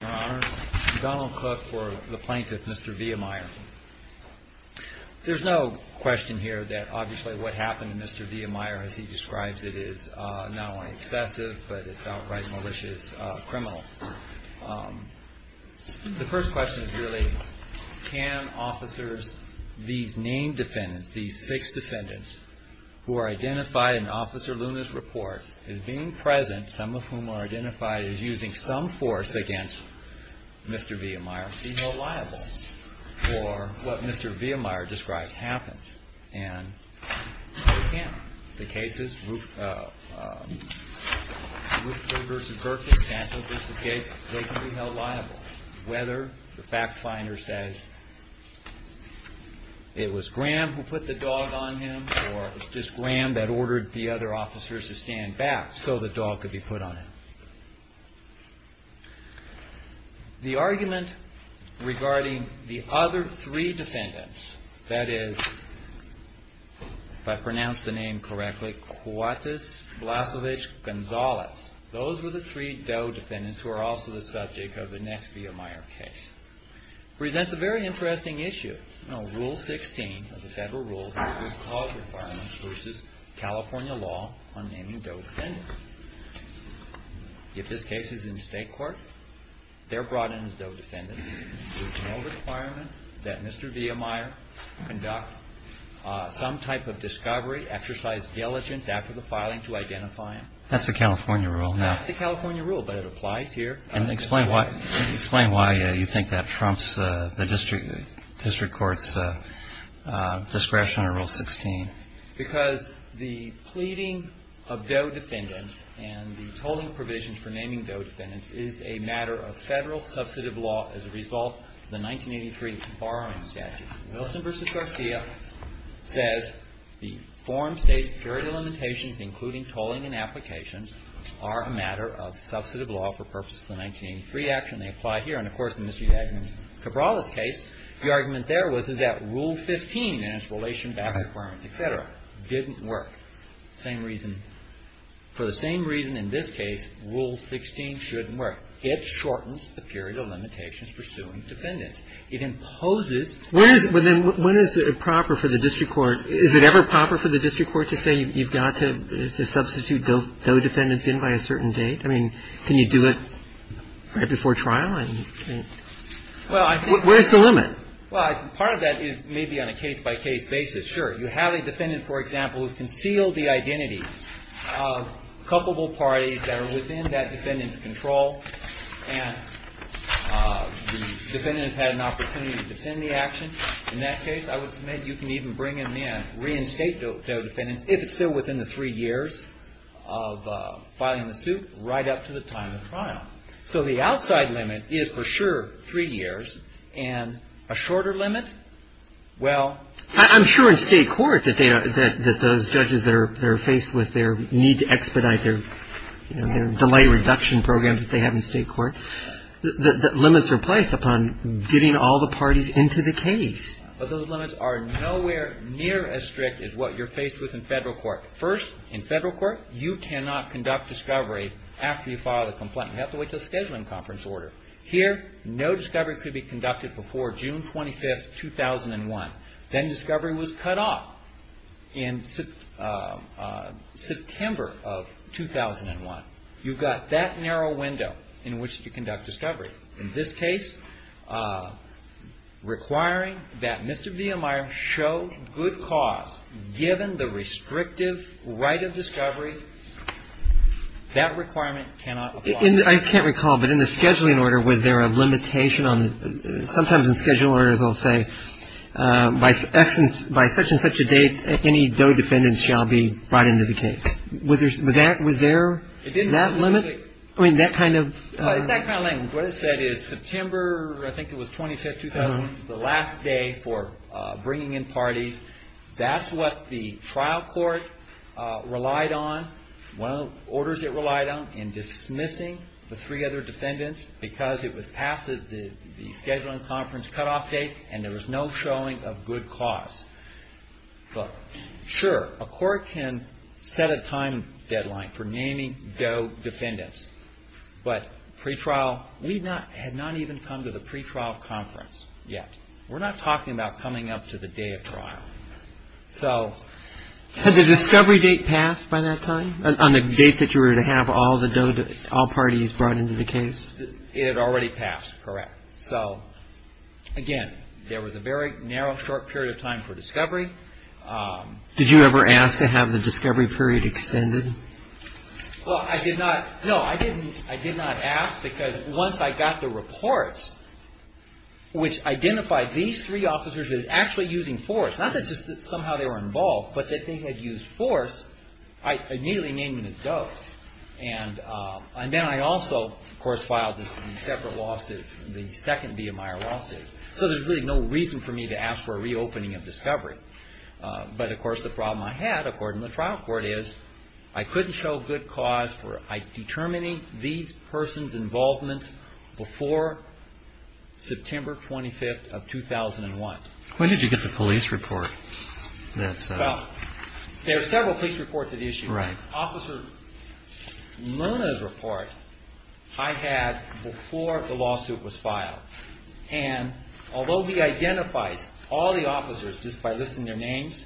Your Honor, Donald Cook for the plaintiff, Mr. Vehmeyer. There's no question here that obviously what happened to Mr. Vehmeyer, as he describes it, is not only excessive, but it's outright malicious criminal. The first question is really, can officers, these named defendants, these six defendants, who are identified in Officer Luna's report, as being present, some of whom are identified as using some force against Mr. Vehmeyer, be held liable for what Mr. Vehmeyer describes happened? And they can. The cases, Roofdale v. Burkitt, Santos v. Gates, they can be held liable. Whether the fact finder says it was Graham who put the dog on him, or it was just Graham that ordered the other officers to stand back so the dog could be put on him. The argument regarding the other three defendants, that is, if I pronounce the name correctly, Cuates, Blasevich, Gonzalez, those were the three Doe defendants who are also the subject of the next Vehmeyer case. It presents a very interesting issue. Rule 16 of the Federal Rules of Cause requirements versus California law on naming Doe defendants. If this case is in State court, they're brought in as Doe defendants. There's no requirement that Mr. Vehmeyer conduct some type of discovery, exercise diligence after the filing to identify him. That's the California rule. That's the California rule, but it applies here. And explain why you think that trumps the district court's discretion under Rule 16. Because the pleading of Doe defendants and the tolling provisions for naming Doe defendants is a matter of Federal substantive law as a result of the 1983 borrowing statute. Wilson v. Garcia says the foreign State's period of limitations, including tolling and applications, are a matter of substantive law for purposes of the 1983 action. They apply here. And, of course, in Mr. Yagner's Cabral's case, the argument there was, is that Rule 15 and its relation back requirements, et cetera, didn't work. Same reason. For the same reason in this case, Rule 16 shouldn't work. It shortens the period of limitations pursuing defendants. It imposes limits. But then when is it proper for the district court, is it ever proper for the district court to say you've got to substitute Doe defendants in by a certain date? I mean, can you do it right before trial? Where's the limit? Well, part of that is maybe on a case-by-case basis. Sure, you have a defendant, for example, who's concealed the identities of culpable parties that are within that defendant's control, and the defendant has had an opportunity to defend the action. In that case, I would submit you can even bring him in, reinstate Doe defendants, if it's still within the three years of filing the suit, right up to the time of trial. So the outside limit is, for sure, three years. And a shorter limit, well ---- Delay reduction programs that they have in state court, the limits are placed upon getting all the parties into the case. But those limits are nowhere near as strict as what you're faced with in federal court. First, in federal court, you cannot conduct discovery after you file the complaint. You have to wait until the scheduling conference order. Here, no discovery could be conducted before June 25, 2001. Then discovery was cut off in September of 2001. You've got that narrow window in which to conduct discovery. In this case, requiring that Mr. Viehmeier show good cause, given the restrictive right of discovery, that requirement cannot apply. I can't recall, but in the scheduling order, was there a limitation on ---- Sometimes in scheduling orders, they'll say, by such and such a date, any though defendants shall be brought into the case. Was there that limit? I mean, that kind of ---- In that kind of language, what it said is September, I think it was 25, 2001, the last day for bringing in parties, that's what the trial court relied on, one of the orders it relied on, in dismissing the three other defendants, because it was past the scheduling conference cutoff date and there was no showing of good cause. But sure, a court can set a time deadline for naming though defendants. But pretrial, we had not even come to the pretrial conference yet. We're not talking about coming up to the day of trial. So ---- Did you know that all parties brought into the case? It had already passed, correct. So, again, there was a very narrow, short period of time for discovery. Did you ever ask to have the discovery period extended? Well, I did not. No, I didn't. I did not ask because once I got the reports, which identified these three officers that are actually using force, not that just somehow they were involved, but that they had used force, I immediately named them as ghosts. And then I also, of course, filed a separate lawsuit, the second V.M. Meyer lawsuit. So there's really no reason for me to ask for a reopening of discovery. But, of course, the problem I had, according to the trial court, is I couldn't show good cause for determining these persons' involvement before September 25th of 2001. When did you get the police report? Well, there are several police reports at issue. Right. Officer Luna's report I had before the lawsuit was filed. And although he identifies all the officers just by listing their names,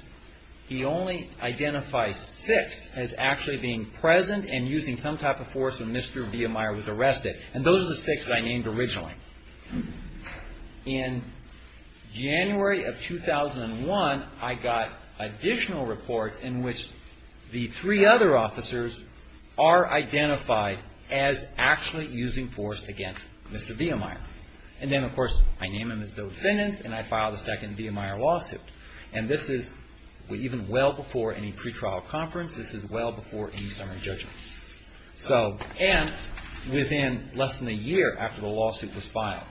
he only identifies six as actually being present and using some type of force when Mr. V.M. Meyer was arrested. And those are the six that I named originally. In January of 2001, I got additional reports in which the three other officers are identified as actually using force against Mr. V.M. Meyer. And then, of course, I named them as the defendants, and I filed a second V.M. Meyer lawsuit. And this is even well before any pretrial conference. This is well before any summary judgment. And within less than a year after the lawsuit was filed.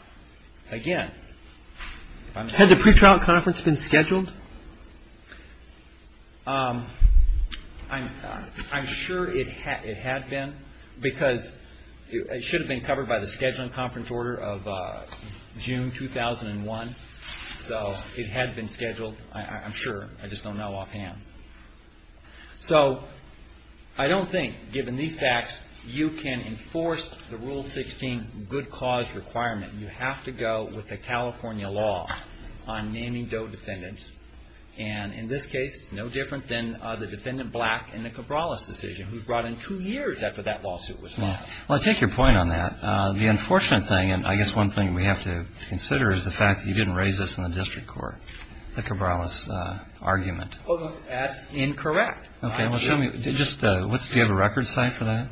Again, if I'm not mistaken. Had the pretrial conference been scheduled? I'm sure it had been because it should have been covered by the scheduling conference order of June 2001. So it had been scheduled. I'm sure. I just don't know offhand. So I don't think, given these facts, you can enforce the Rule 16 good cause requirement. You have to go with the California law on naming DOE defendants. And in this case, it's no different than the defendant Black and the Cabrales decision, who was brought in two years after that lawsuit was filed. Well, I take your point on that. The unfortunate thing, and I guess one thing we have to consider, is the fact that you didn't raise this in the district court, the Cabrales argument. That's incorrect. Do you have a record site for that?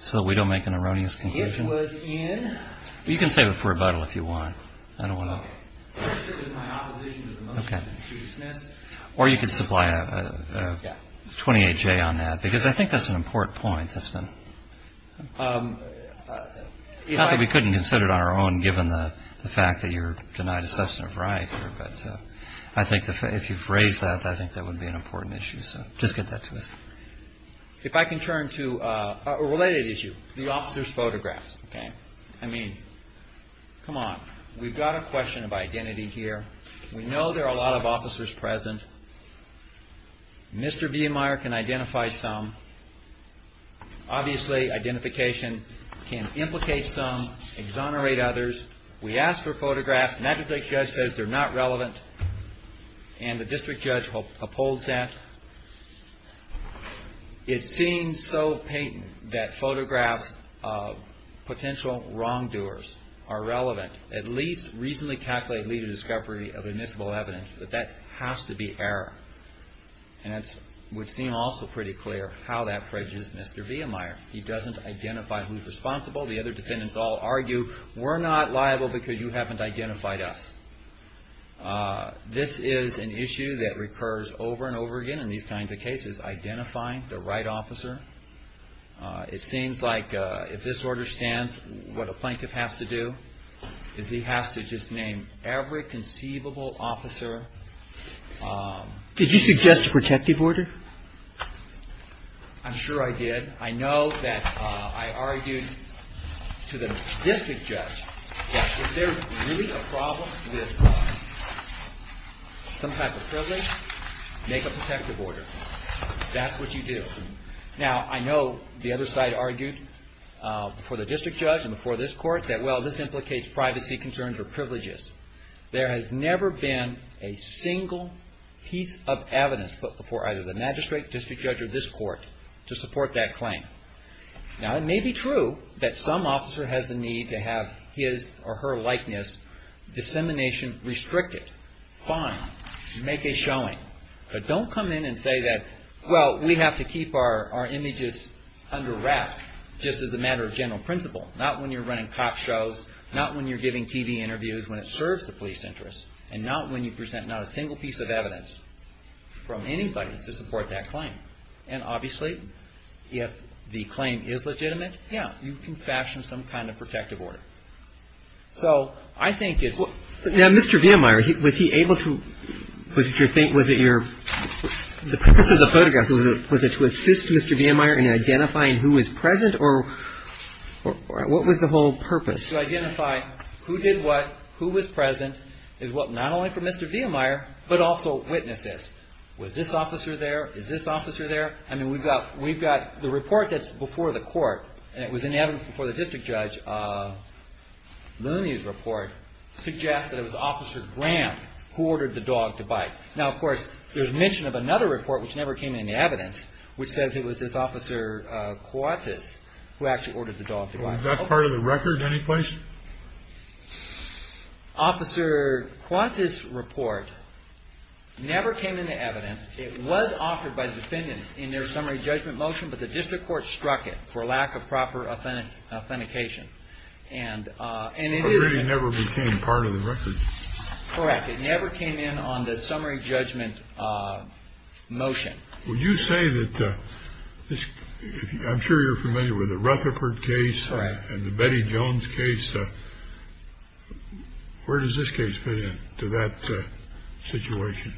So we don't make an erroneous conclusion? It was in. You can save it for rebuttal if you want. I don't want to. It was my opposition to the motion. Okay. Or you could supply a 28-J on that. Because I think that's an important point that's been. Not that we couldn't consider it on our own, given the fact that you're denied a substantive right. But I think if you've raised that, I think that would be an important issue. So just get that to us. If I can turn to a related issue, the officer's photographs. Okay. I mean, come on. We've got a question of identity here. We know there are a lot of officers present. Mr. Viemeyer can identify some. Obviously, identification can implicate some, exonerate others. We asked for photographs. The magistrate judge says they're not relevant. And the district judge upholds that. It seems so patent that photographs of potential wrongdoers are relevant. At least reasonably calculate lead to discovery of admissible evidence. But that has to be error. And it would seem also pretty clear how that prejudges Mr. Viemeyer. He doesn't identify who's responsible. The other defendants all argue, we're not liable because you haven't identified us. This is an issue that recurs over and over again in these kinds of cases, identifying the right officer. It seems like if this order stands, what a plaintiff has to do is he has to just name every conceivable officer. Did you suggest a protective order? I'm sure I did. I know that I argued to the district judge that if there's really a problem with some type of privilege, make a protective order. That's what you do. Now, I know the other side argued before the district judge and before this court that, well, this implicates privacy concerns or privileges. There has never been a single piece of evidence put before either the magistrate, district judge, or this court to support that claim. Now, it may be true that some officer has the need to have his or her likeness dissemination restricted. Fine. Make a showing. But don't come in and say that, well, we have to keep our images under wraps just as a matter of general principle. Not when you're running cop shows. Not when you're giving TV interviews when it serves the police interest. And not when you present not a single piece of evidence from anybody to support that claim. And obviously, if the claim is legitimate, yeah, you can fashion some kind of protective order. So I think it's – Now, Mr. Viemeyer, was he able to – was it your – was it your – the purpose of the photographs, was it to assist Mr. Viemeyer in identifying who was present, or what was the whole purpose? To identify who did what, who was present, is what not only for Mr. Viemeyer, but also witnesses. Was this officer there? Is this officer there? I mean, we've got – we've got – the report that's before the court, and it was in evidence before the district judge, Mooney's report, suggests that it was Officer Graham who ordered the dog to bite. Now, of course, there's mention of another report, which never came into evidence, which says it was this Officer Qantas who actually ordered the dog to bite. Was that part of the record in any place? Officer Qantas' report never came into evidence. It was offered by the defendants in their summary judgment motion, but the district court struck it for lack of proper authentication, and it – So it really never became part of the record? Correct. It never came in on the summary judgment motion. Would you say that this – I'm sure you're familiar with the Rutherford case – Correct. And the Betty Jones case. Where does this case fit in to that situation?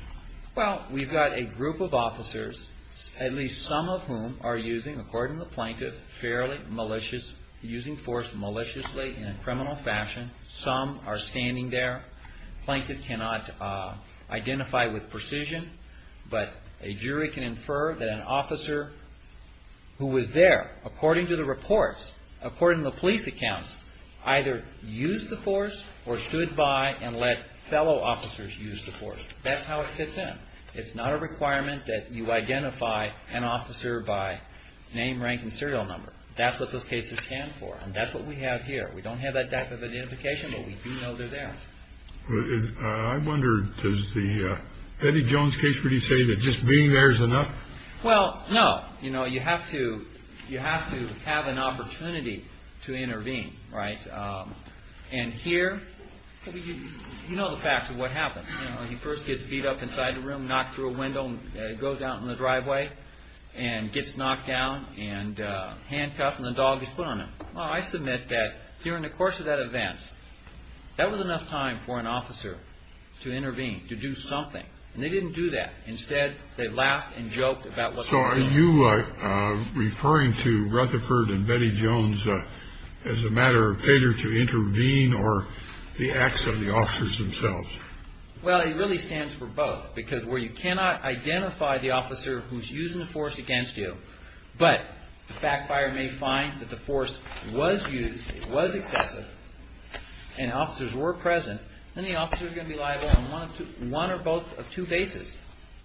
Well, we've got a group of officers, at least some of whom are using, according to the plaintiff, fairly malicious – using force maliciously in a criminal fashion. Some are standing there. Plaintiff cannot identify with precision, but a jury can infer that an officer who was there, according to the reports, according to the police accounts, either used the force or stood by and let fellow officers use the force. That's how it fits in. It's not a requirement that you identify an officer by name, rank, and serial number. That's what those cases stand for, and that's what we have here. We don't have that type of identification, but we do know they're there. I wonder, does the Betty Jones case really say that just being there is enough? Well, no. You know, you have to have an opportunity to intervene, right? And here, you know the facts of what happens. You know, he first gets beat up inside the room, knocked through a window, goes out in the driveway and gets knocked down and handcuffed, and the dog is put on him. Well, I submit that during the course of that event, that was enough time for an officer to intervene, to do something. And they didn't do that. Well, are you referring to Rutherford and Betty Jones as a matter of failure to intervene or the acts of the officers themselves? Well, it really stands for both, because where you cannot identify the officer who's using the force against you, but the backfire may find that the force was used, it was excessive, and officers were present, then the officer is going to be liable on one or both of two bases.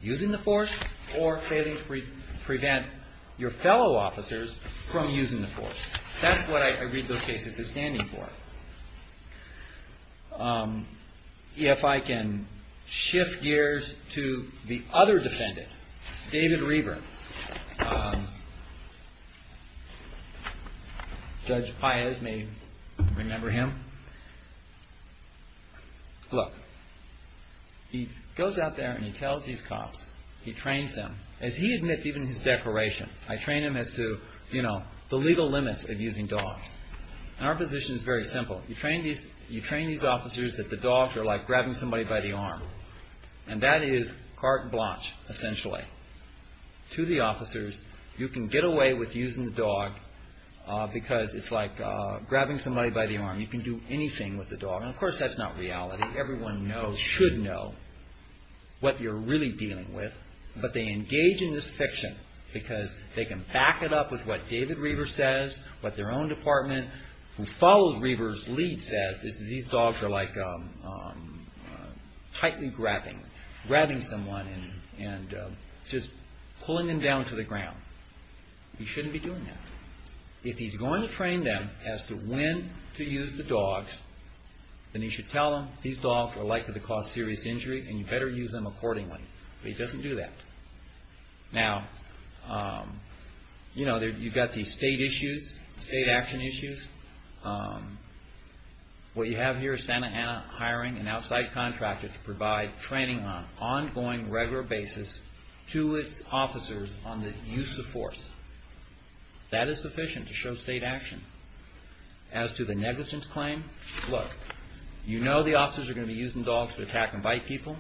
Using the force or failing to prevent your fellow officers from using the force. That's what I read those cases as standing for. If I can shift gears to the other defendant, David Reber. Judge Paez may remember him. Look, he goes out there and he tells these cops, he trains them, as he admits even in his declaration, I train them as to, you know, the legal limits of using dogs. And our position is very simple. You train these officers that the dogs are like grabbing somebody by the arm. And that is carte blanche, essentially. To the officers, you can get away with using the dog because it's like grabbing somebody by the arm. You can do anything with the dog. And of course, that's not reality. Everyone knows, should know, what you're really dealing with. But they engage in this fiction because they can back it up with what David Reber says, what their own department, who follows Reber's lead says, is that these dogs are like tightly grabbing. Grabbing someone and just pulling them down to the ground. You shouldn't be doing that. If he's going to train them as to when to use the dogs, then he should tell them, these dogs are likely to cause serious injury and you better use them accordingly. But he doesn't do that. Now, you know, you've got these state issues, state action issues. What you have here is Santa Ana hiring an outside contractor to provide training on an ongoing, regular basis to its officers on the use of force. That is sufficient to show state action. As to the negligence claim, look, you know the officers are going to be using dogs to attack and bite people.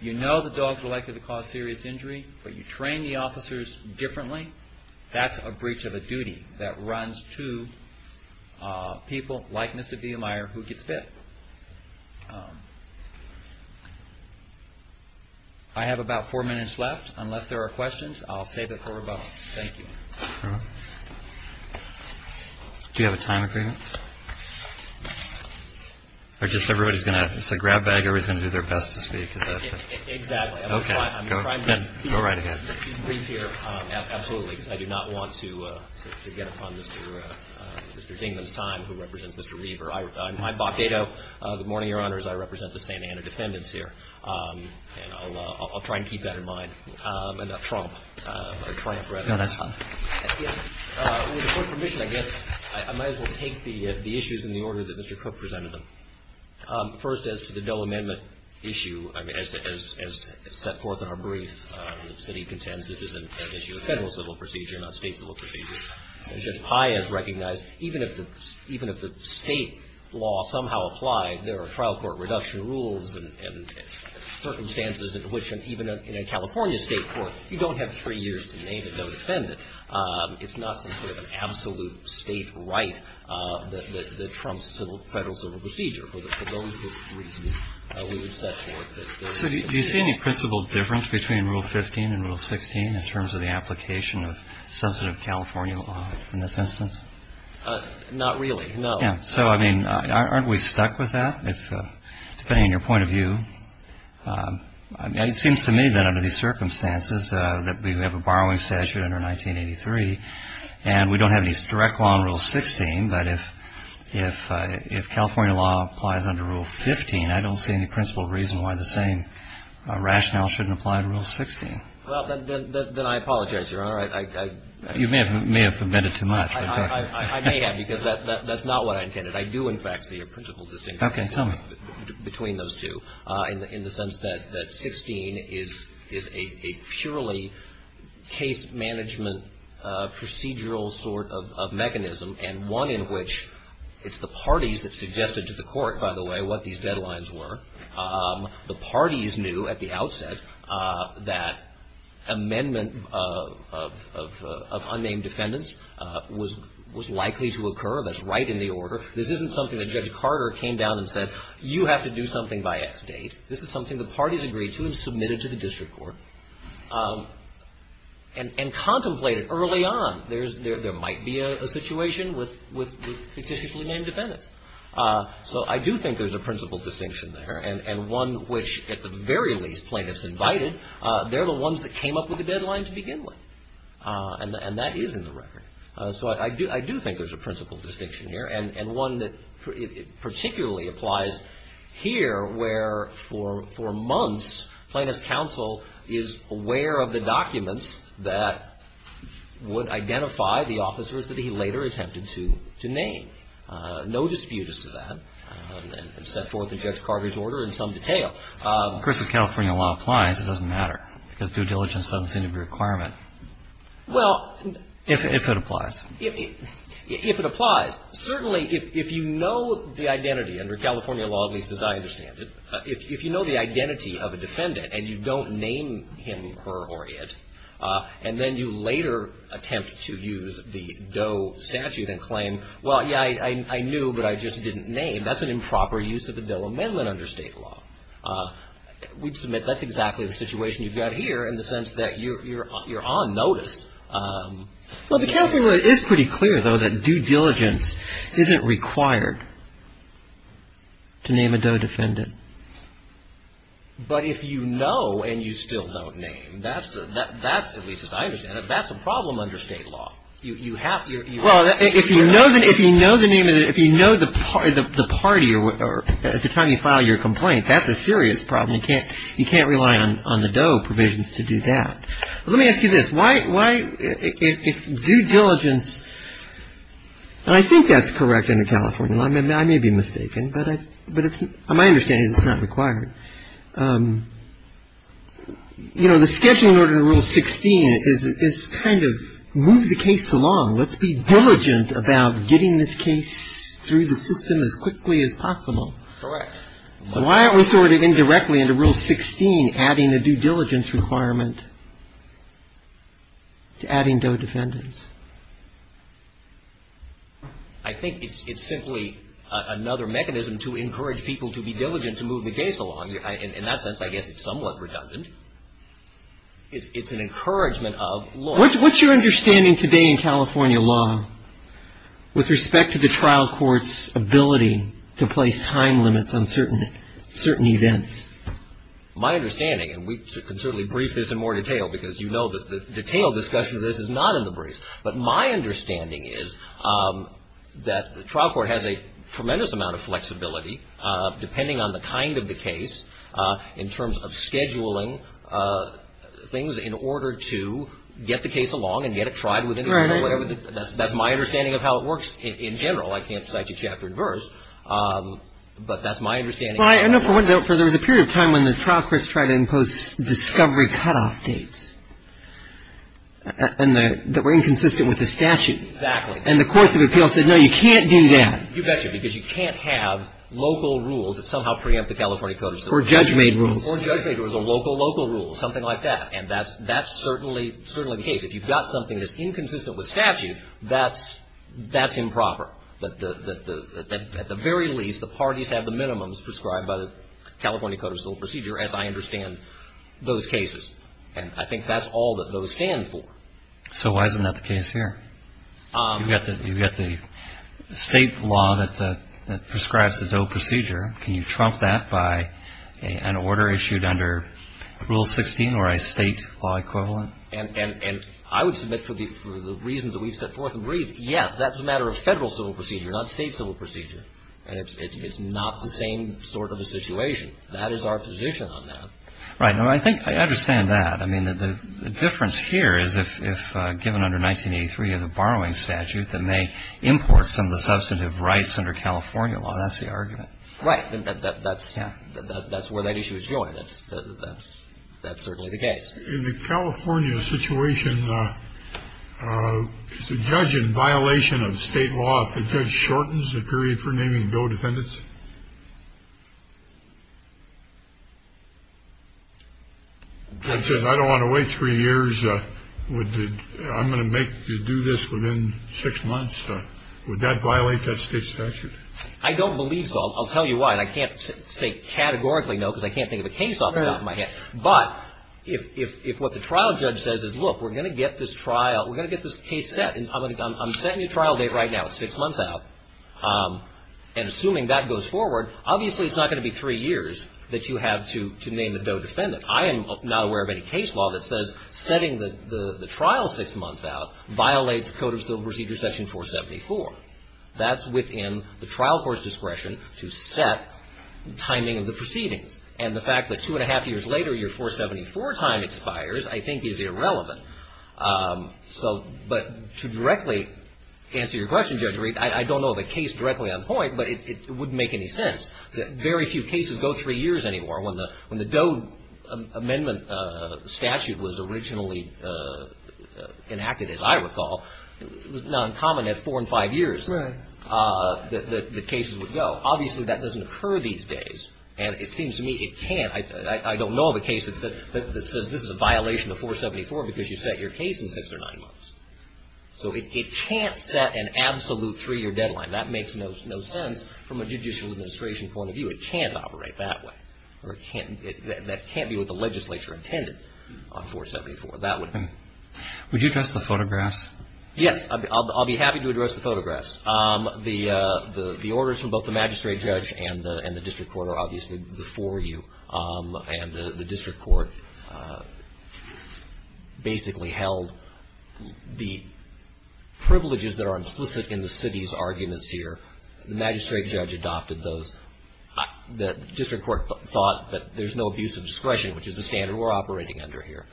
You know the dogs are likely to cause serious injury, but you train the officers differently. That's a breach of a duty that runs to people like Mr. Villamire who gets bit. I have about four minutes left. Unless there are questions, I'll save it for rebuttal. Thank you. Do you have a time agreement? Or just everybody's going to, it's a grab bag. Everybody's going to do their best to speak. Exactly. Okay. Go right ahead. I'm trying to be brief here. Absolutely. Because I do not want to get upon Mr. Dingman's time who represents Mr. Reaver. I'm Bob Dado. Good morning, Your Honors. I represent the Santa Ana defendants here. And I'll try and keep that in mind. And Trump, or Tramp rather. No, that's fine. With your permission, I guess I might as well take the issues in the order that Mr. Cook presented them. First, as to the no amendment issue, as set forth in our brief, the city contends this is an issue of federal civil procedure, not state civil procedure. As Judge Pai has recognized, even if the state law somehow applied, there are trial court reduction rules and circumstances in which even in a California state court, you don't have three years to name a defendant. It's not some sort of absolute state right that trumps federal civil procedure. For those reasons, we would set forth that there is some sort of law. So do you see any principled difference between Rule 15 and Rule 16 in terms of the application of substantive California law in this instance? Not really, no. So, I mean, aren't we stuck with that? Depending on your point of view, it seems to me that under these circumstances that we have a borrowing statute under 1983, and we don't have any direct law in Rule 16, but if California law applies under Rule 15, I don't see any principled reason why the same rationale shouldn't apply to Rule 16. Well, then I apologize, Your Honor. You may have omitted too much. I do, in fact, see a principled distinction between those two in the sense that 16 is a purely case management procedural sort of mechanism and one in which it's the parties that suggested to the court, by the way, what these deadlines were. The parties knew at the outset that amendment of unnamed defendants was likely to occur. That's right in the order. This isn't something that Judge Carter came down and said, you have to do something by X date. This is something the parties agreed to and submitted to the district court and contemplated early on. There might be a situation with fictitiously named defendants. So I do think there's a principled distinction there and one which, at the very least, plaintiffs invited. They're the ones that came up with the deadline to begin with, and that is in the record. So I do think there's a principled distinction here and one that particularly applies here where, for months, Plaintiff's counsel is aware of the documents that would identify the officers that he later attempted to name. No disputes to that. It's set forth in Judge Carter's order in some detail. Of course, if California law applies, it doesn't matter because due diligence doesn't seem to be a requirement. Well. If it applies. If it applies. Certainly, if you know the identity under California law, at least as I understand it, if you know the identity of a defendant and you don't name him, her, or it, and then you later attempt to use the Doe statute and claim, well, yeah, I knew, but I just didn't name, that's an improper use of the bill of amendment under State law. We'd submit that's exactly the situation you've got here in the sense that you're on notice. Well, the California law is pretty clear, though, that due diligence isn't required to name a Doe defendant. But if you know and you still don't name, that's, at least as I understand it, that's a problem under State law. Well, if you know the name of the, if you know the party or at the time you file your complaint, that's a serious problem. You can't rely on the Doe provisions to do that. Let me ask you this. Why, if due diligence, and I think that's correct under California law. I may be mistaken, but it's, my understanding is it's not required. You know, the schedule in order to Rule 16 is kind of move the case along. Let's be diligent about getting this case through the system as quickly as possible. Correct. So why aren't we sorted indirectly into Rule 16, adding a due diligence requirement to adding Doe defendants? I think it's simply another mechanism to encourage people to be diligent to move the case along. In that sense, I guess it's somewhat redundant. It's an encouragement of law. What's your understanding today in California law with respect to the trial court's ability to place time limits on certain events? My understanding, and we can certainly brief this in more detail because you know the detailed discussion of this is not in the briefs. But my understanding is that the trial court has a tremendous amount of flexibility, depending on the kind of the case, in terms of scheduling things in order to get the case along and get it tried. Right. That's my understanding of how it works in general. I can't cite you chapter and verse, but that's my understanding. Well, I know there was a period of time when the trial courts tried to impose discovery cutoff dates that were inconsistent with the statute. Exactly. And the course of appeal said, no, you can't do that. You betcha, because you can't have local rules that somehow preempt the California code. Or judge-made rules. Or judge-made rules or local, local rules, something like that. And that's certainly the case. If you've got something that's inconsistent with statute, that's improper. At the very least, the parties have the minimums prescribed by the California Code of Civil Procedure, as I understand those cases. And I think that's all that those stand for. So why isn't that the case here? You've got the state law that prescribes the DOE procedure. Can you trump that by an order issued under Rule 16 or a state law equivalent? And I would submit for the reasons that we've set forth and briefed, yeah, that's a matter of federal civil procedure, not state civil procedure. And it's not the same sort of a situation. That is our position on that. Right. Now, I think I understand that. I mean, the difference here is if given under 1983 of the borrowing statute, then they import some of the substantive rights under California law. That's the argument. Right. That's where that issue is going. That's certainly the case. In the California situation, is the judge in violation of state law if the judge shortens the period for naming DOE defendants? I said I don't want to wait three years. I'm going to make you do this within six months. Would that violate that state statute? I don't believe so. I'll tell you why. And I can't say categorically no because I can't think of a case off the top of my head. But if what the trial judge says is, look, we're going to get this trial, we're going to get this case set. I'm setting a trial date right now. It's six months out. And assuming that goes forward, obviously it's not going to be three years that you have to name the DOE defendant. I am not aware of any case law that says setting the trial six months out violates Code of Civil Procedure Section 474. That's within the trial court's discretion to set timing of the proceedings. And the fact that two and a half years later your 474 time expires I think is irrelevant. So but to directly answer your question, Judge Reed, I don't know of a case directly on point, but it wouldn't make any sense. Very few cases go three years anymore. When the DOE amendment statute was originally enacted, as I recall, it was noncommon at four and five years. Right. That the cases would go. Obviously that doesn't occur these days. And it seems to me it can't. I don't know of a case that says this is a violation of 474 because you set your case in six or nine months. So it can't set an absolute three-year deadline. That makes no sense from a judicial administration point of view. It can't operate that way. That can't be what the legislature intended on 474. That would be. Would you address the photographs? Yes. I'll be happy to address the photographs. The orders from both the magistrate judge and the district court are obviously before you. And the district court basically held the privileges that are implicit in the city's arguments here. The magistrate judge adopted those. The district court thought that there's no abuse of discretion, which is the standard we're operating under here.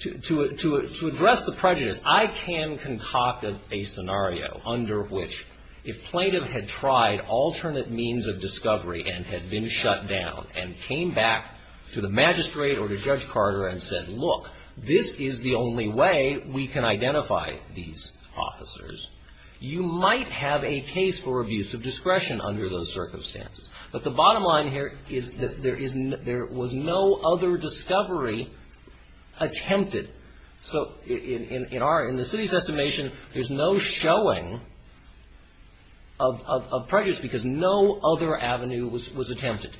To address the prejudice, I can concoct a scenario under which if plaintiff had tried alternate means of discovery and had been shut down and came back to the magistrate or to Judge Carter and said, look, this is the only way we can identify these officers, you might have a case for abuse of discretion under those circumstances. But the bottom line here is that there was no other discovery attempted. So in the city's estimation, there's no showing of prejudice because no other avenue was attempted.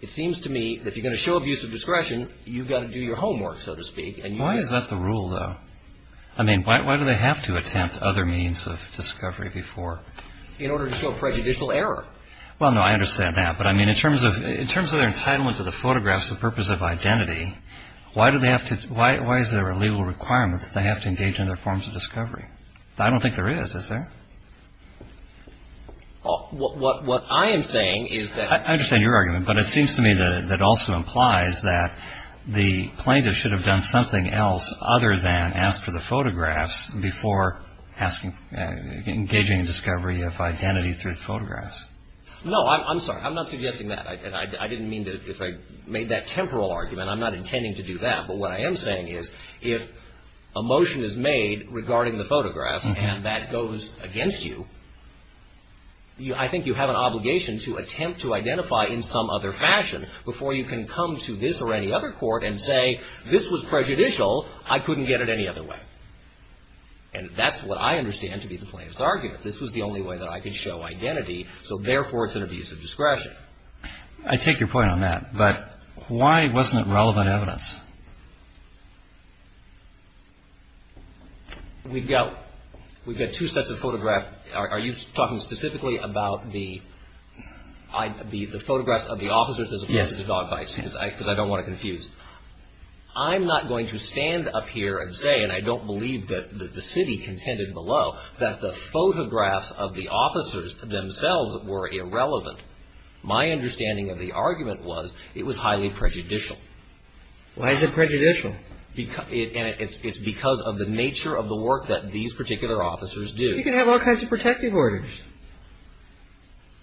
It seems to me that if you're going to show abuse of discretion, you've got to do your homework, so to speak. Why is that the rule, though? I mean, why do they have to attempt other means of discovery before? In order to show prejudicial error. Well, no, I understand that. But I mean, in terms of their entitlement to the photographs, the purpose of identity, why do they have to – why is there a legal requirement that they have to engage in other forms of discovery? I don't think there is, is there? What I am saying is that – I understand your argument, but it seems to me that it also implies that the plaintiff should have done something else other than ask for the photographs before engaging in discovery of identity through photographs. No, I'm sorry. I'm not suggesting that. I didn't mean to – if I made that temporal argument, I'm not intending to do that. But what I am saying is if a motion is made regarding the photographs and that goes against you, I think you have an obligation to attempt to identify in some other fashion before you can come to this or any other court and say this was prejudicial, I couldn't get it any other way. And that's what I understand to be the plaintiff's argument. This was the only way that I could show identity, so therefore it's an abuse of discretion. I take your point on that. But why wasn't it relevant evidence? We've got two sets of photographs. Are you talking specifically about the photographs of the officers as a case of dog bites? Yes. Because I don't want to confuse. I'm not going to stand up here and say, and I don't believe that the city contended below, that the photographs of the officers themselves were irrelevant. My understanding of the argument was it was highly prejudicial. Why is it prejudicial? It's because of the nature of the work that these particular officers do. You can have all kinds of protective orders.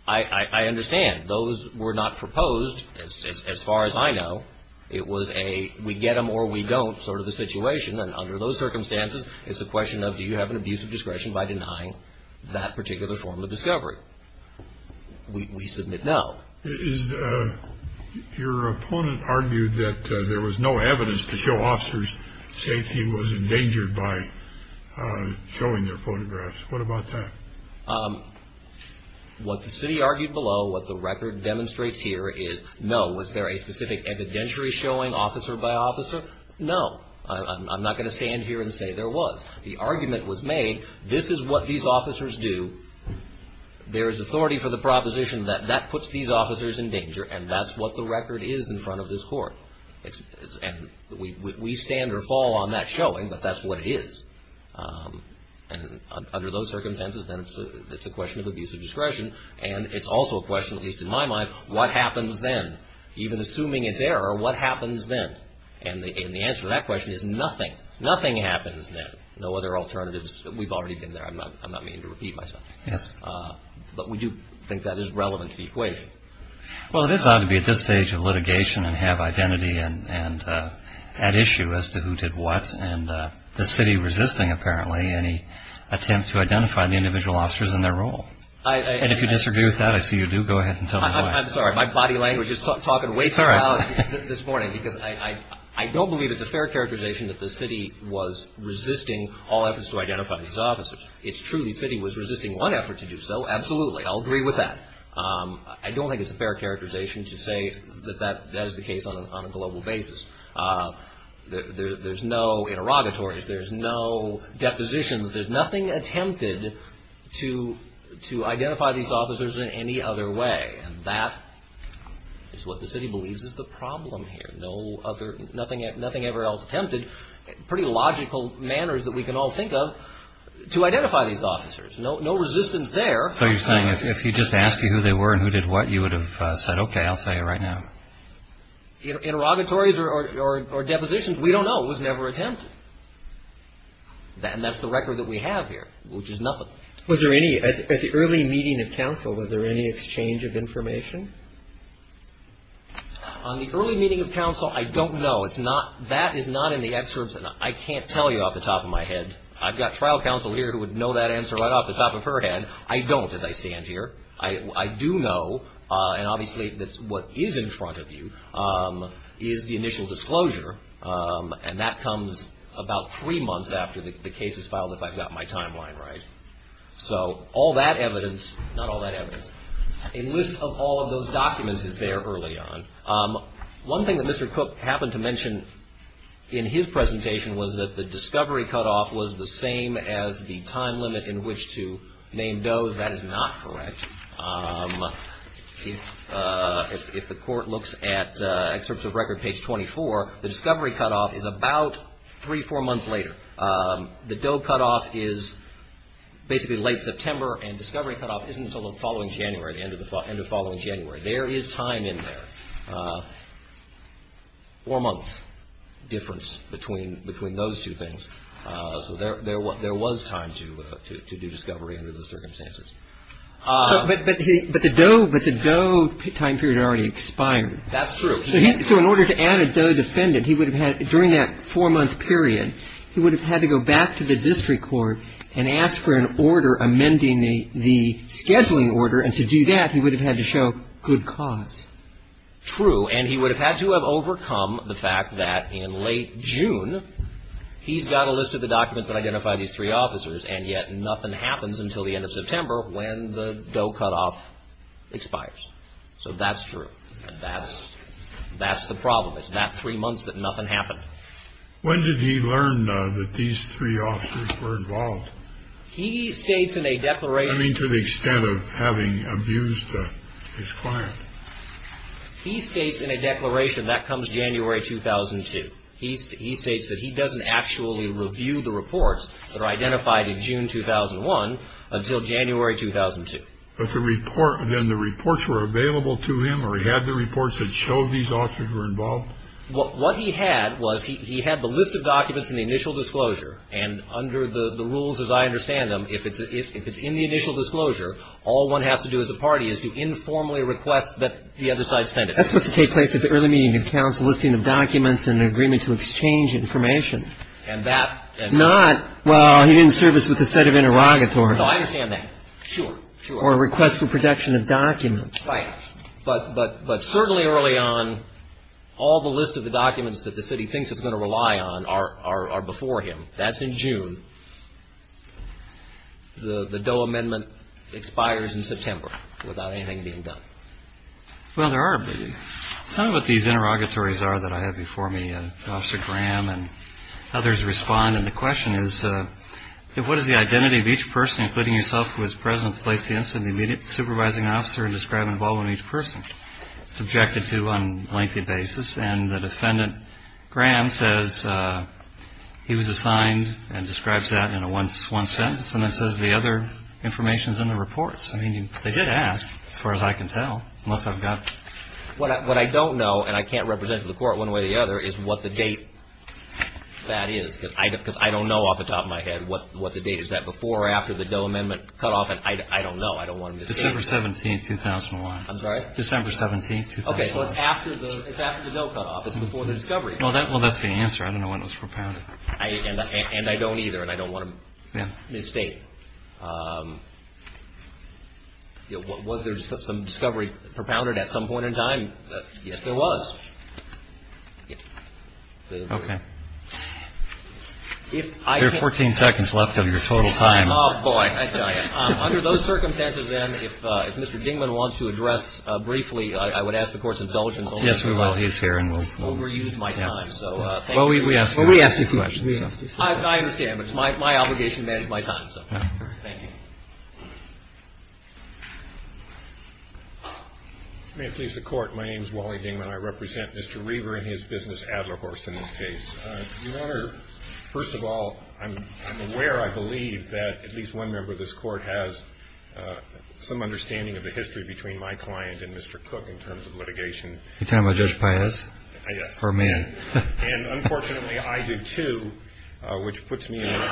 I understand. Those were not proposed, as far as I know. It was a we get them or we don't sort of a situation. And under those circumstances, it's a question of do you have an abuse of discretion by denying that particular form of discovery? We submit no. Is your opponent argued that there was no evidence to show officers safety was endangered by showing their photographs? What about that? What the city argued below, what the record demonstrates here is no. Was there a specific evidentiary showing officer by officer? No. I'm not going to stand here and say there was. The argument was made. This is what these officers do. There is authority for the proposition that that puts these officers in danger. And that's what the record is in front of this court. And we stand or fall on that showing, but that's what it is. And under those circumstances, then it's a question of abuse of discretion. And it's also a question, at least in my mind, what happens then? Even assuming it's error, what happens then? And the answer to that question is nothing. Nothing happens then. No other alternatives. We've already been there. I'm not meaning to repeat myself. Yes. But we do think that is relevant to the equation. Well, it is odd to be at this stage of litigation and have identity and at issue as to who did what and the city resisting apparently any attempt to identify the individual officers in their role. And if you disagree with that, I see you do. Go ahead and tell me why. I'm sorry. My body language is talking way too loud this morning because I don't believe it's a fair characterization that the city was resisting all efforts to identify these officers. It's true the city was resisting one effort to do so. Absolutely. I'll agree with that. I don't think it's a fair characterization to say that that is the case on a global basis. There's no interrogatories. There's no depositions. There's nothing attempted to identify these officers in any other way. And that is what the city believes is the problem here. Nothing ever else attempted. Pretty logical manners that we can all think of to identify these officers. No resistance there. So you're saying if he just asked you who they were and who did what, you would have said, okay, I'll tell you right now. Interrogatories or depositions, we don't know. It was never attempted. And that's the record that we have here, which is nothing. At the early meeting of council, was there any exchange of information? On the early meeting of council, I don't know. That is not in the excerpts. I can't tell you off the top of my head. I've got trial counsel here who would know that answer right off the top of her head. I don't, as I stand here. I do know, and obviously what is in front of you, is the initial disclosure. And that comes about three months after the case is filed, if I've got my timeline right. So all that evidence, not all that evidence. A list of all of those documents is there early on. One thing that Mr. Cook happened to mention in his presentation was that the discovery cutoff was the same as the time limit in which to name does. That is not correct. If the court looks at excerpts of record page 24, the discovery cutoff is about three, four months later. The Doe cutoff is basically late September and discovery cutoff isn't until the following January, the end of the following January. There is time in there. Four months difference between those two things. So there was time to do discovery under those circumstances. But the Doe time period already expired. That's true. So in order to add a Doe defendant, he would have had, during that four-month period, he would have had to go back to the district court and ask for an order amending the scheduling order. And to do that, he would have had to show good cause. True. And he would have had to have overcome the fact that in late June, he's got a list of the documents that identify these three officers, and yet nothing happens until the end of September when the Doe cutoff expires. So that's true. That's the problem. It's that three months that nothing happened. When did he learn that these three officers were involved? He states in a declaration. I mean, to the extent of having abused his client. He states in a declaration that comes January 2002. He states that he doesn't actually review the reports that are identified in June 2001 until January 2002. But then the reports were available to him, or he had the reports that showed these officers were involved? What he had was he had the list of documents in the initial disclosure. And under the rules as I understand them, if it's in the initial disclosure, all one has to do as a party is to informally request that the other side send it. That's supposed to take place at the early meeting of counsel, listing of documents and an agreement to exchange information. And that. Not, well, he didn't serve us with a set of interrogatories. No, I understand that. Sure, sure. Or request for protection of documents. Right. But certainly early on, all the list of the documents that the city thinks it's going to rely on are before him. That's in June. The Doe Amendment expires in September without anything being done. Well, there are. Some of what these interrogatories are that I have before me, Officer Graham and others respond. And the question is, what is the identity of each person, including yourself, who is present to place the incident immediate supervising officer and describe involved in each person subjected to on a lengthy basis? And the defendant, Graham, says he was assigned and describes that in a one sentence. And that says the other information is in the reports. I mean, they did ask, as far as I can tell, unless I've got. What I don't know, and I can't represent the court one way or the other, is what the date that is, because I don't know off the top of my head what the date is that before or after the Doe Amendment cutoff. And I don't know. I don't want to misstate. December 17, 2001. I'm sorry? December 17, 2001. Okay, so it's after the Doe Cutoff. It's before the discovery. Well, that's the answer. I don't know when it was propounded. And I don't either. And I don't want to misstate. Was there some discovery propounded at some point in time? Yes, there was. Okay. There are 14 seconds left of your total time. Oh, boy. Under those circumstances, then, if Mr. Dingman wants to address briefly, I would ask the Court's indulgence. Yes, we will. He's here. I've overused my time. Well, we asked you a few questions. I understand. But it's my obligation to manage my time. Thank you. May it please the Court. My name is Wally Dingman. I represent Mr. Reaver and his business, Adler Horse, in this case. Your Honor, first of all, I'm aware, I believe, that at least one member of this Court has some understanding of the history between my client and Mr. Cook in terms of litigation. You're talking about Judge Paez? Yes. Or a man. And, unfortunately, I do, too, which puts me in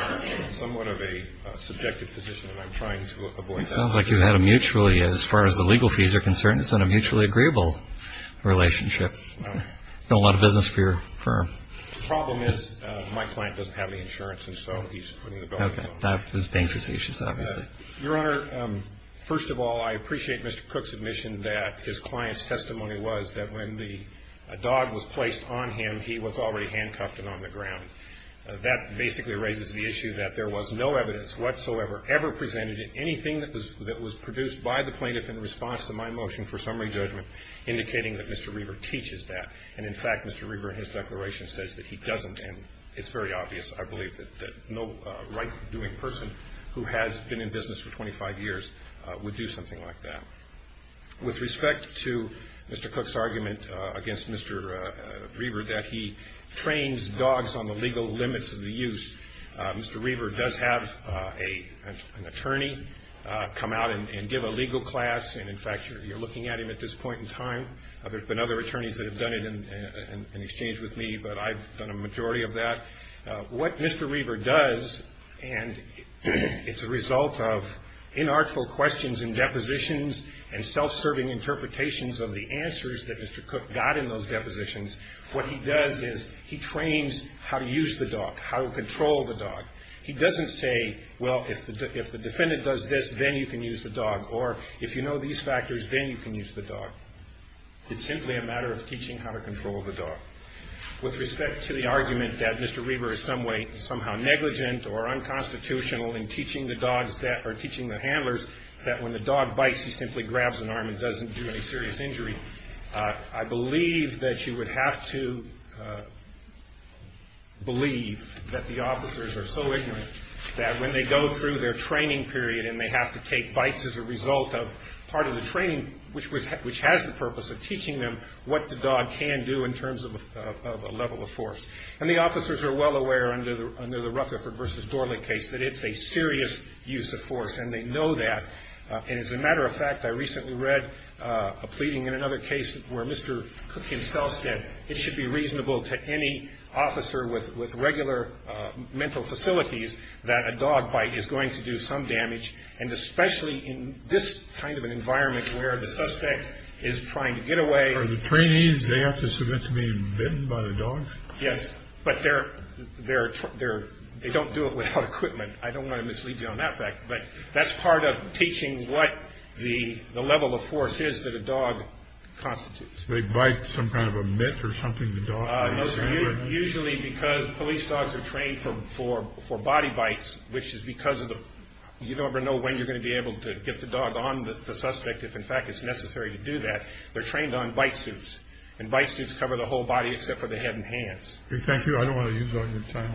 somewhat of a subjective position, and I'm trying to avoid that. It sounds like you had a mutually, as far as the legal fees are concerned, it's been a mutually agreeable relationship. It's been a lot of business for your firm. The problem is my client doesn't have any insurance, and so he's putting the belt on. Okay. That was bank decisions, obviously. Your Honor, first of all, I appreciate Mr. Cook's admission that his client's testimony was that when the dog was placed on him, he was already handcuffed and on the ground. That basically raises the issue that there was no evidence whatsoever ever presented in anything that was produced by the plaintiff in response to my motion for summary judgment indicating that Mr. Reaver teaches that. And, in fact, Mr. Reaver, in his declaration, says that he doesn't. And it's very obvious, I believe, that no right-doing person who has been in business for 25 years would do something like that. With respect to Mr. Cook's argument against Mr. Reaver that he trains dogs on the legal limits of the use, Mr. Reaver does have an attorney come out and give a legal class. And, in fact, you're looking at him at this point in time. There have been other attorneys that have done it in exchange with me, but I've done a majority of that. What Mr. Reaver does, and it's a result of inartful questions and depositions and self-serving interpretations of the answers that Mr. Cook got in those depositions, what he does is he trains how to use the dog, how to control the dog. He doesn't say, well, if the defendant does this, then you can use the dog, or if you know these factors, then you can use the dog. It's simply a matter of teaching how to control the dog. With respect to the argument that Mr. Reaver is somehow negligent or unconstitutional in teaching the dogs or teaching the handlers that when the dog bites, he simply grabs an arm and doesn't do any serious injury, I believe that you would have to believe that the officers are so ignorant that when they go through their training period and they have to take bites as a result of part of the training, which has the purpose of teaching them what the dog can do in terms of a level of force. And the officers are well aware under the Rutherford v. Dorling case that it's a serious use of force, and they know that. And as a matter of fact, I recently read a pleading in another case where Mr. Cook himself said that it should be reasonable to any officer with regular mental facilities that a dog bite is going to do some damage, and especially in this kind of an environment where the suspect is trying to get away. Are the trainees, they have to submit to being bitten by the dogs? Yes, but they don't do it without equipment. I don't want to mislead you on that fact, but that's part of teaching what the level of force is that a dog constitutes. So they bite some kind of a mitt or something? Usually because police dogs are trained for body bites, which is because you never know when you're going to be able to get the dog on the suspect if, in fact, it's necessary to do that. They're trained on bite suits, and bite suits cover the whole body except for the head and hands. Thank you. I don't want to use all your time.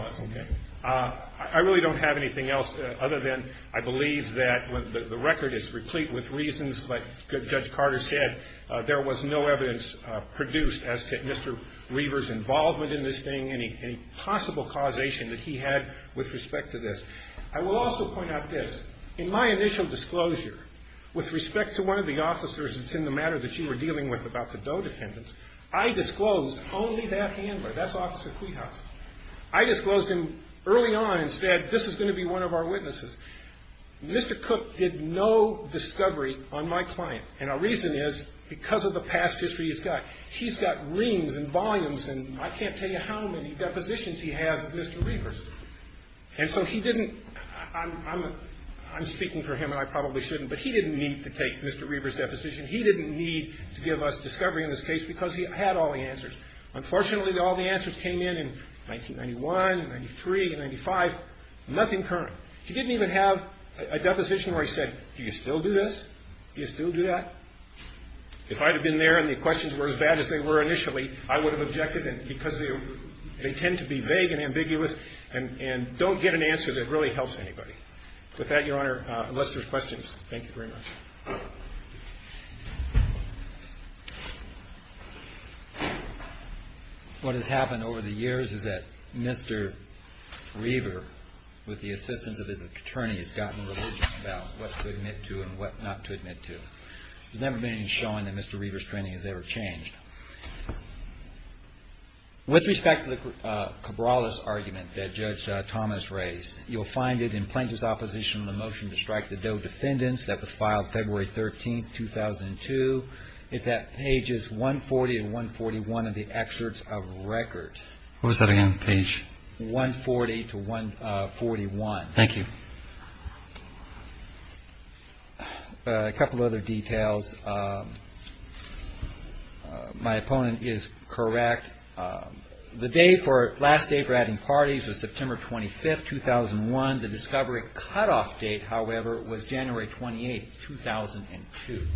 I really don't have anything else other than I believe that the record is replete with reasons, but Judge Carter said there was no evidence produced as to Mr. Reaver's involvement in this thing, any possible causation that he had with respect to this. I will also point out this. In my initial disclosure with respect to one of the officers that's in the matter that you were dealing with about the doe defendants, I disclosed only that handler. That's Officer Cuihaus. I disclosed him early on and said this is going to be one of our witnesses. Mr. Cook did no discovery on my client, and our reason is because of the past history he's got. He's got reams and volumes, and I can't tell you how many depositions he has of Mr. Reaver's. And so he didn't – I'm speaking for him, and I probably shouldn't, but he didn't need to take Mr. Reaver's deposition. He didn't need to give us discovery in this case because he had all the answers. Unfortunately, all the answers came in in 1991, in 93, in 95, nothing current. He didn't even have a deposition where he said, do you still do this? Do you still do that? If I had been there and the questions were as bad as they were initially, I would have objected because they tend to be vague and ambiguous and don't get an answer that really helps anybody. With that, Your Honor, unless there's questions, thank you very much. What has happened over the years is that Mr. Reaver, with the assistance of his attorney, has gotten religious about what to admit to and what not to admit to. There's never been any showing that Mr. Reaver's training has ever changed. With respect to the Cabrales argument that Judge Thomas raised, you'll find it in plaintiff's opposition to the motion to strike the Doe defendants that was filed February 13, 2002. It's at pages 140 and 141 of the excerpts of record. What was that again, page? 140 to 141. Thank you. A couple of other details. My opponent is correct. The day for last day for adding parties was September 25, 2001. The discovery cutoff date, however, was January 28, 2002.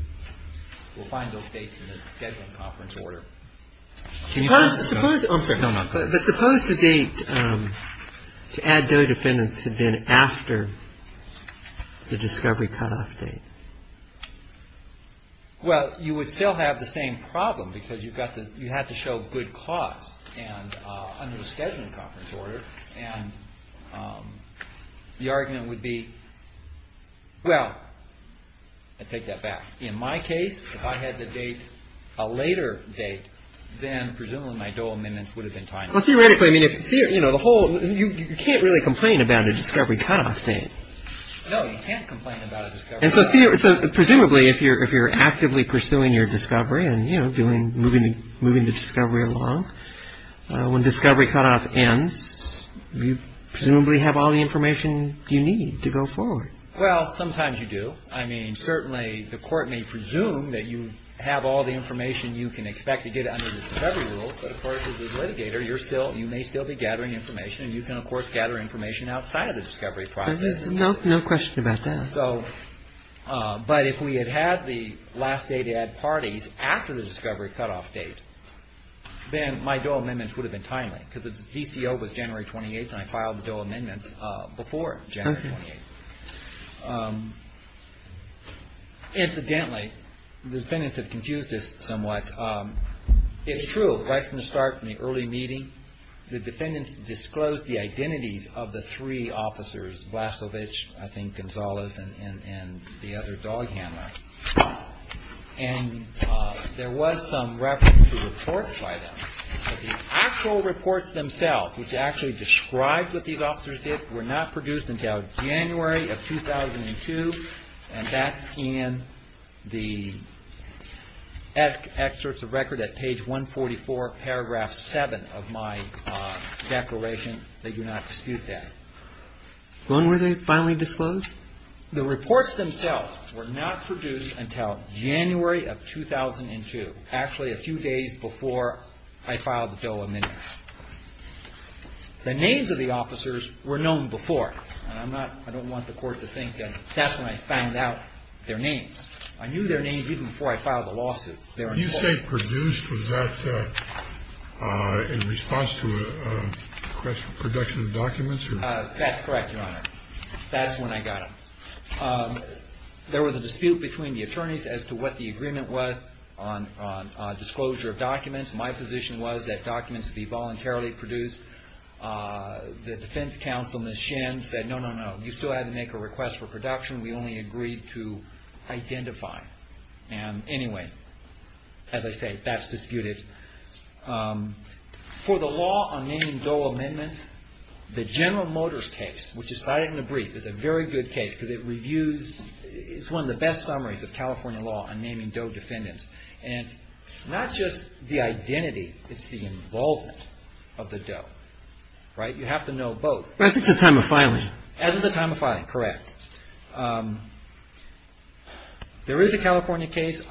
We'll find those dates in the scheduling conference order. But suppose the date to add Doe defendants had been after the discovery cutoff date? Well, you would still have the same problem because you have to show good cost under the scheduling conference order. And the argument would be, well, I take that back. In my case, if I had the date a later date, then presumably my Doe amendments would have been tied. Well, theoretically, I mean, you can't really complain about a discovery cutoff date. And so presumably, if you're actively pursuing your discovery and, you know, moving the discovery along, when discovery cutoff ends, you presumably have all the information you need to go forward. Well, sometimes you do. I mean, certainly the court may presume that you have all the information you can expect to get under the discovery rules. But, of course, as a litigator, you may still be gathering information. And you can, of course, gather information outside of the discovery process. No question about that. And so but if we had had the last day to add parties after the discovery cutoff date, then my Doe amendments would have been timely because the DCO was January 28th, and I filed the Doe amendments before January 28th. Incidentally, the defendants have confused us somewhat. It's true. Right from the start, from the early meeting, the defendants disclosed the identities of the three officers, Vlasovic, I think, Gonzalez, and the other dog handler. And there was some reference to reports by them. But the actual reports themselves, which actually described what these officers did, were not produced until January of 2002. And that's in the excerpts of record at page 144, paragraph 7 of my declaration. I think they do not dispute that. When were they finally disclosed? The reports themselves were not produced until January of 2002, actually a few days before I filed the Doe amendments. The names of the officers were known before. And I'm not – I don't want the Court to think that that's when I found out their names. I knew their names even before I filed the lawsuit. You say produced. Was that in response to a request for production of documents? That's correct, Your Honor. That's when I got them. There was a dispute between the attorneys as to what the agreement was on disclosure of documents. My position was that documents be voluntarily produced. The defense counsel, Ms. Shen, said, no, no, no, you still have to make a request for production. We only agreed to identify. And anyway, as I say, that's disputed. For the law on naming Doe amendments, the General Motors case, which is cited in the brief, is a very good case because it reviews – it's one of the best summaries of California law on naming Doe defendants. And it's not just the identity, it's the involvement of the Doe. Right? You have to know both. As of the time of filing. As of the time of filing, correct. There is a California case,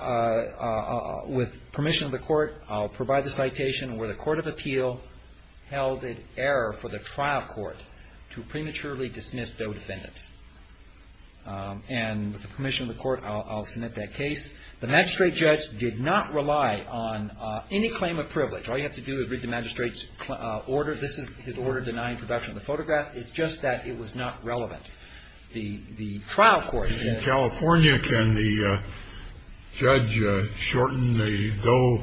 with permission of the Court, I'll provide the citation, where the Court of Appeal held it error for the trial court to prematurely dismiss Doe defendants. And with the permission of the Court, I'll submit that case. The magistrate judge did not rely on any claim of privilege. All you have to do is read the magistrate's order. This is his order denying production of the photographs. It's just that it was not relevant. The trial court. In California, can the judge shorten the Doe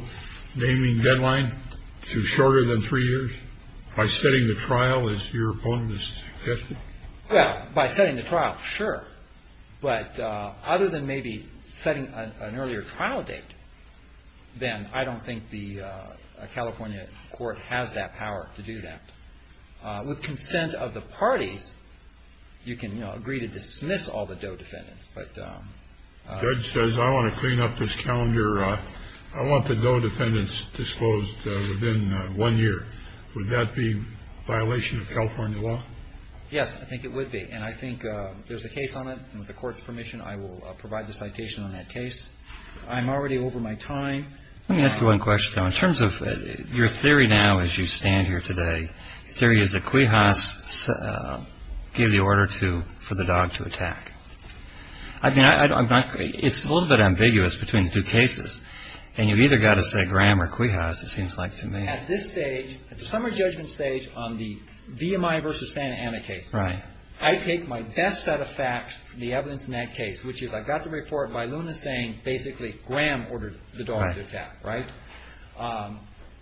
naming deadline to shorter than three years? By setting the trial as your opponent has suggested? Well, by setting the trial, sure. But other than maybe setting an earlier trial date, then I don't think the California court has that power to do that. With consent of the parties, you can agree to dismiss all the Doe defendants. The judge says, I want to clean up this calendar. I want the Doe defendants disclosed within one year. Would that be a violation of California law? Yes, I think it would be. And I think there's a case on it. With the Court's permission, I will provide the citation on that case. I'm already over my time. Let me ask you one question, though. In terms of your theory now as you stand here today, the theory is that Quijas gave the order for the dog to attack. I mean, it's a little bit ambiguous between the two cases. And you've either got to say Graham or Quijas, it seems like to me. At this stage, at the summary judgment stage on the VMI versus Santa Ana case, I take my best set of facts from the evidence in that case, which is I got the report by Luna saying basically Graham ordered the dog to attack, right?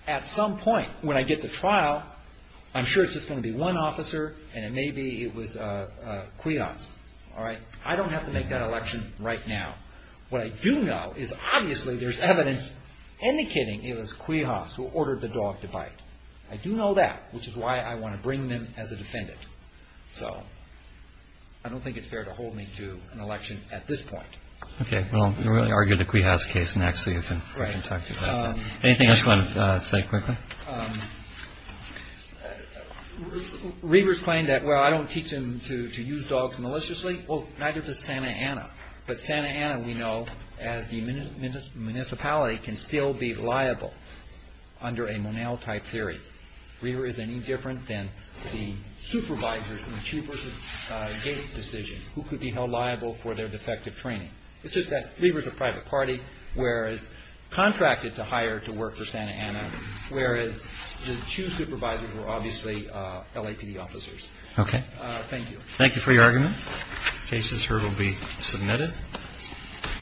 At some point when I get to trial, I'm sure it's just going to be one officer and it may be it was Quijas. I don't have to make that election right now. What I do know is obviously there's evidence indicating it was Quijas who ordered the dog to bite. I do know that, which is why I want to bring them as a defendant. So I don't think it's fair to hold me to an election at this point. Okay. Well, you really argue the Quijas case next. Right. Anything else you want to say quickly? Reavers claimed that, well, I don't teach him to use dogs maliciously. Well, neither does Santa Ana. But Santa Ana, we know, as the municipality, can still be liable under a Monell type theory. Reavers is any different than the supervisors in the Chu versus Gates decision, who could be held liable for their defective training. It's just that Reavers is a private party, whereas contracted to hire to work for Santa Ana, whereas the Chu supervisors were obviously LAPD officers. Okay. Thank you. Thank you for your argument. Cases here will be submitted.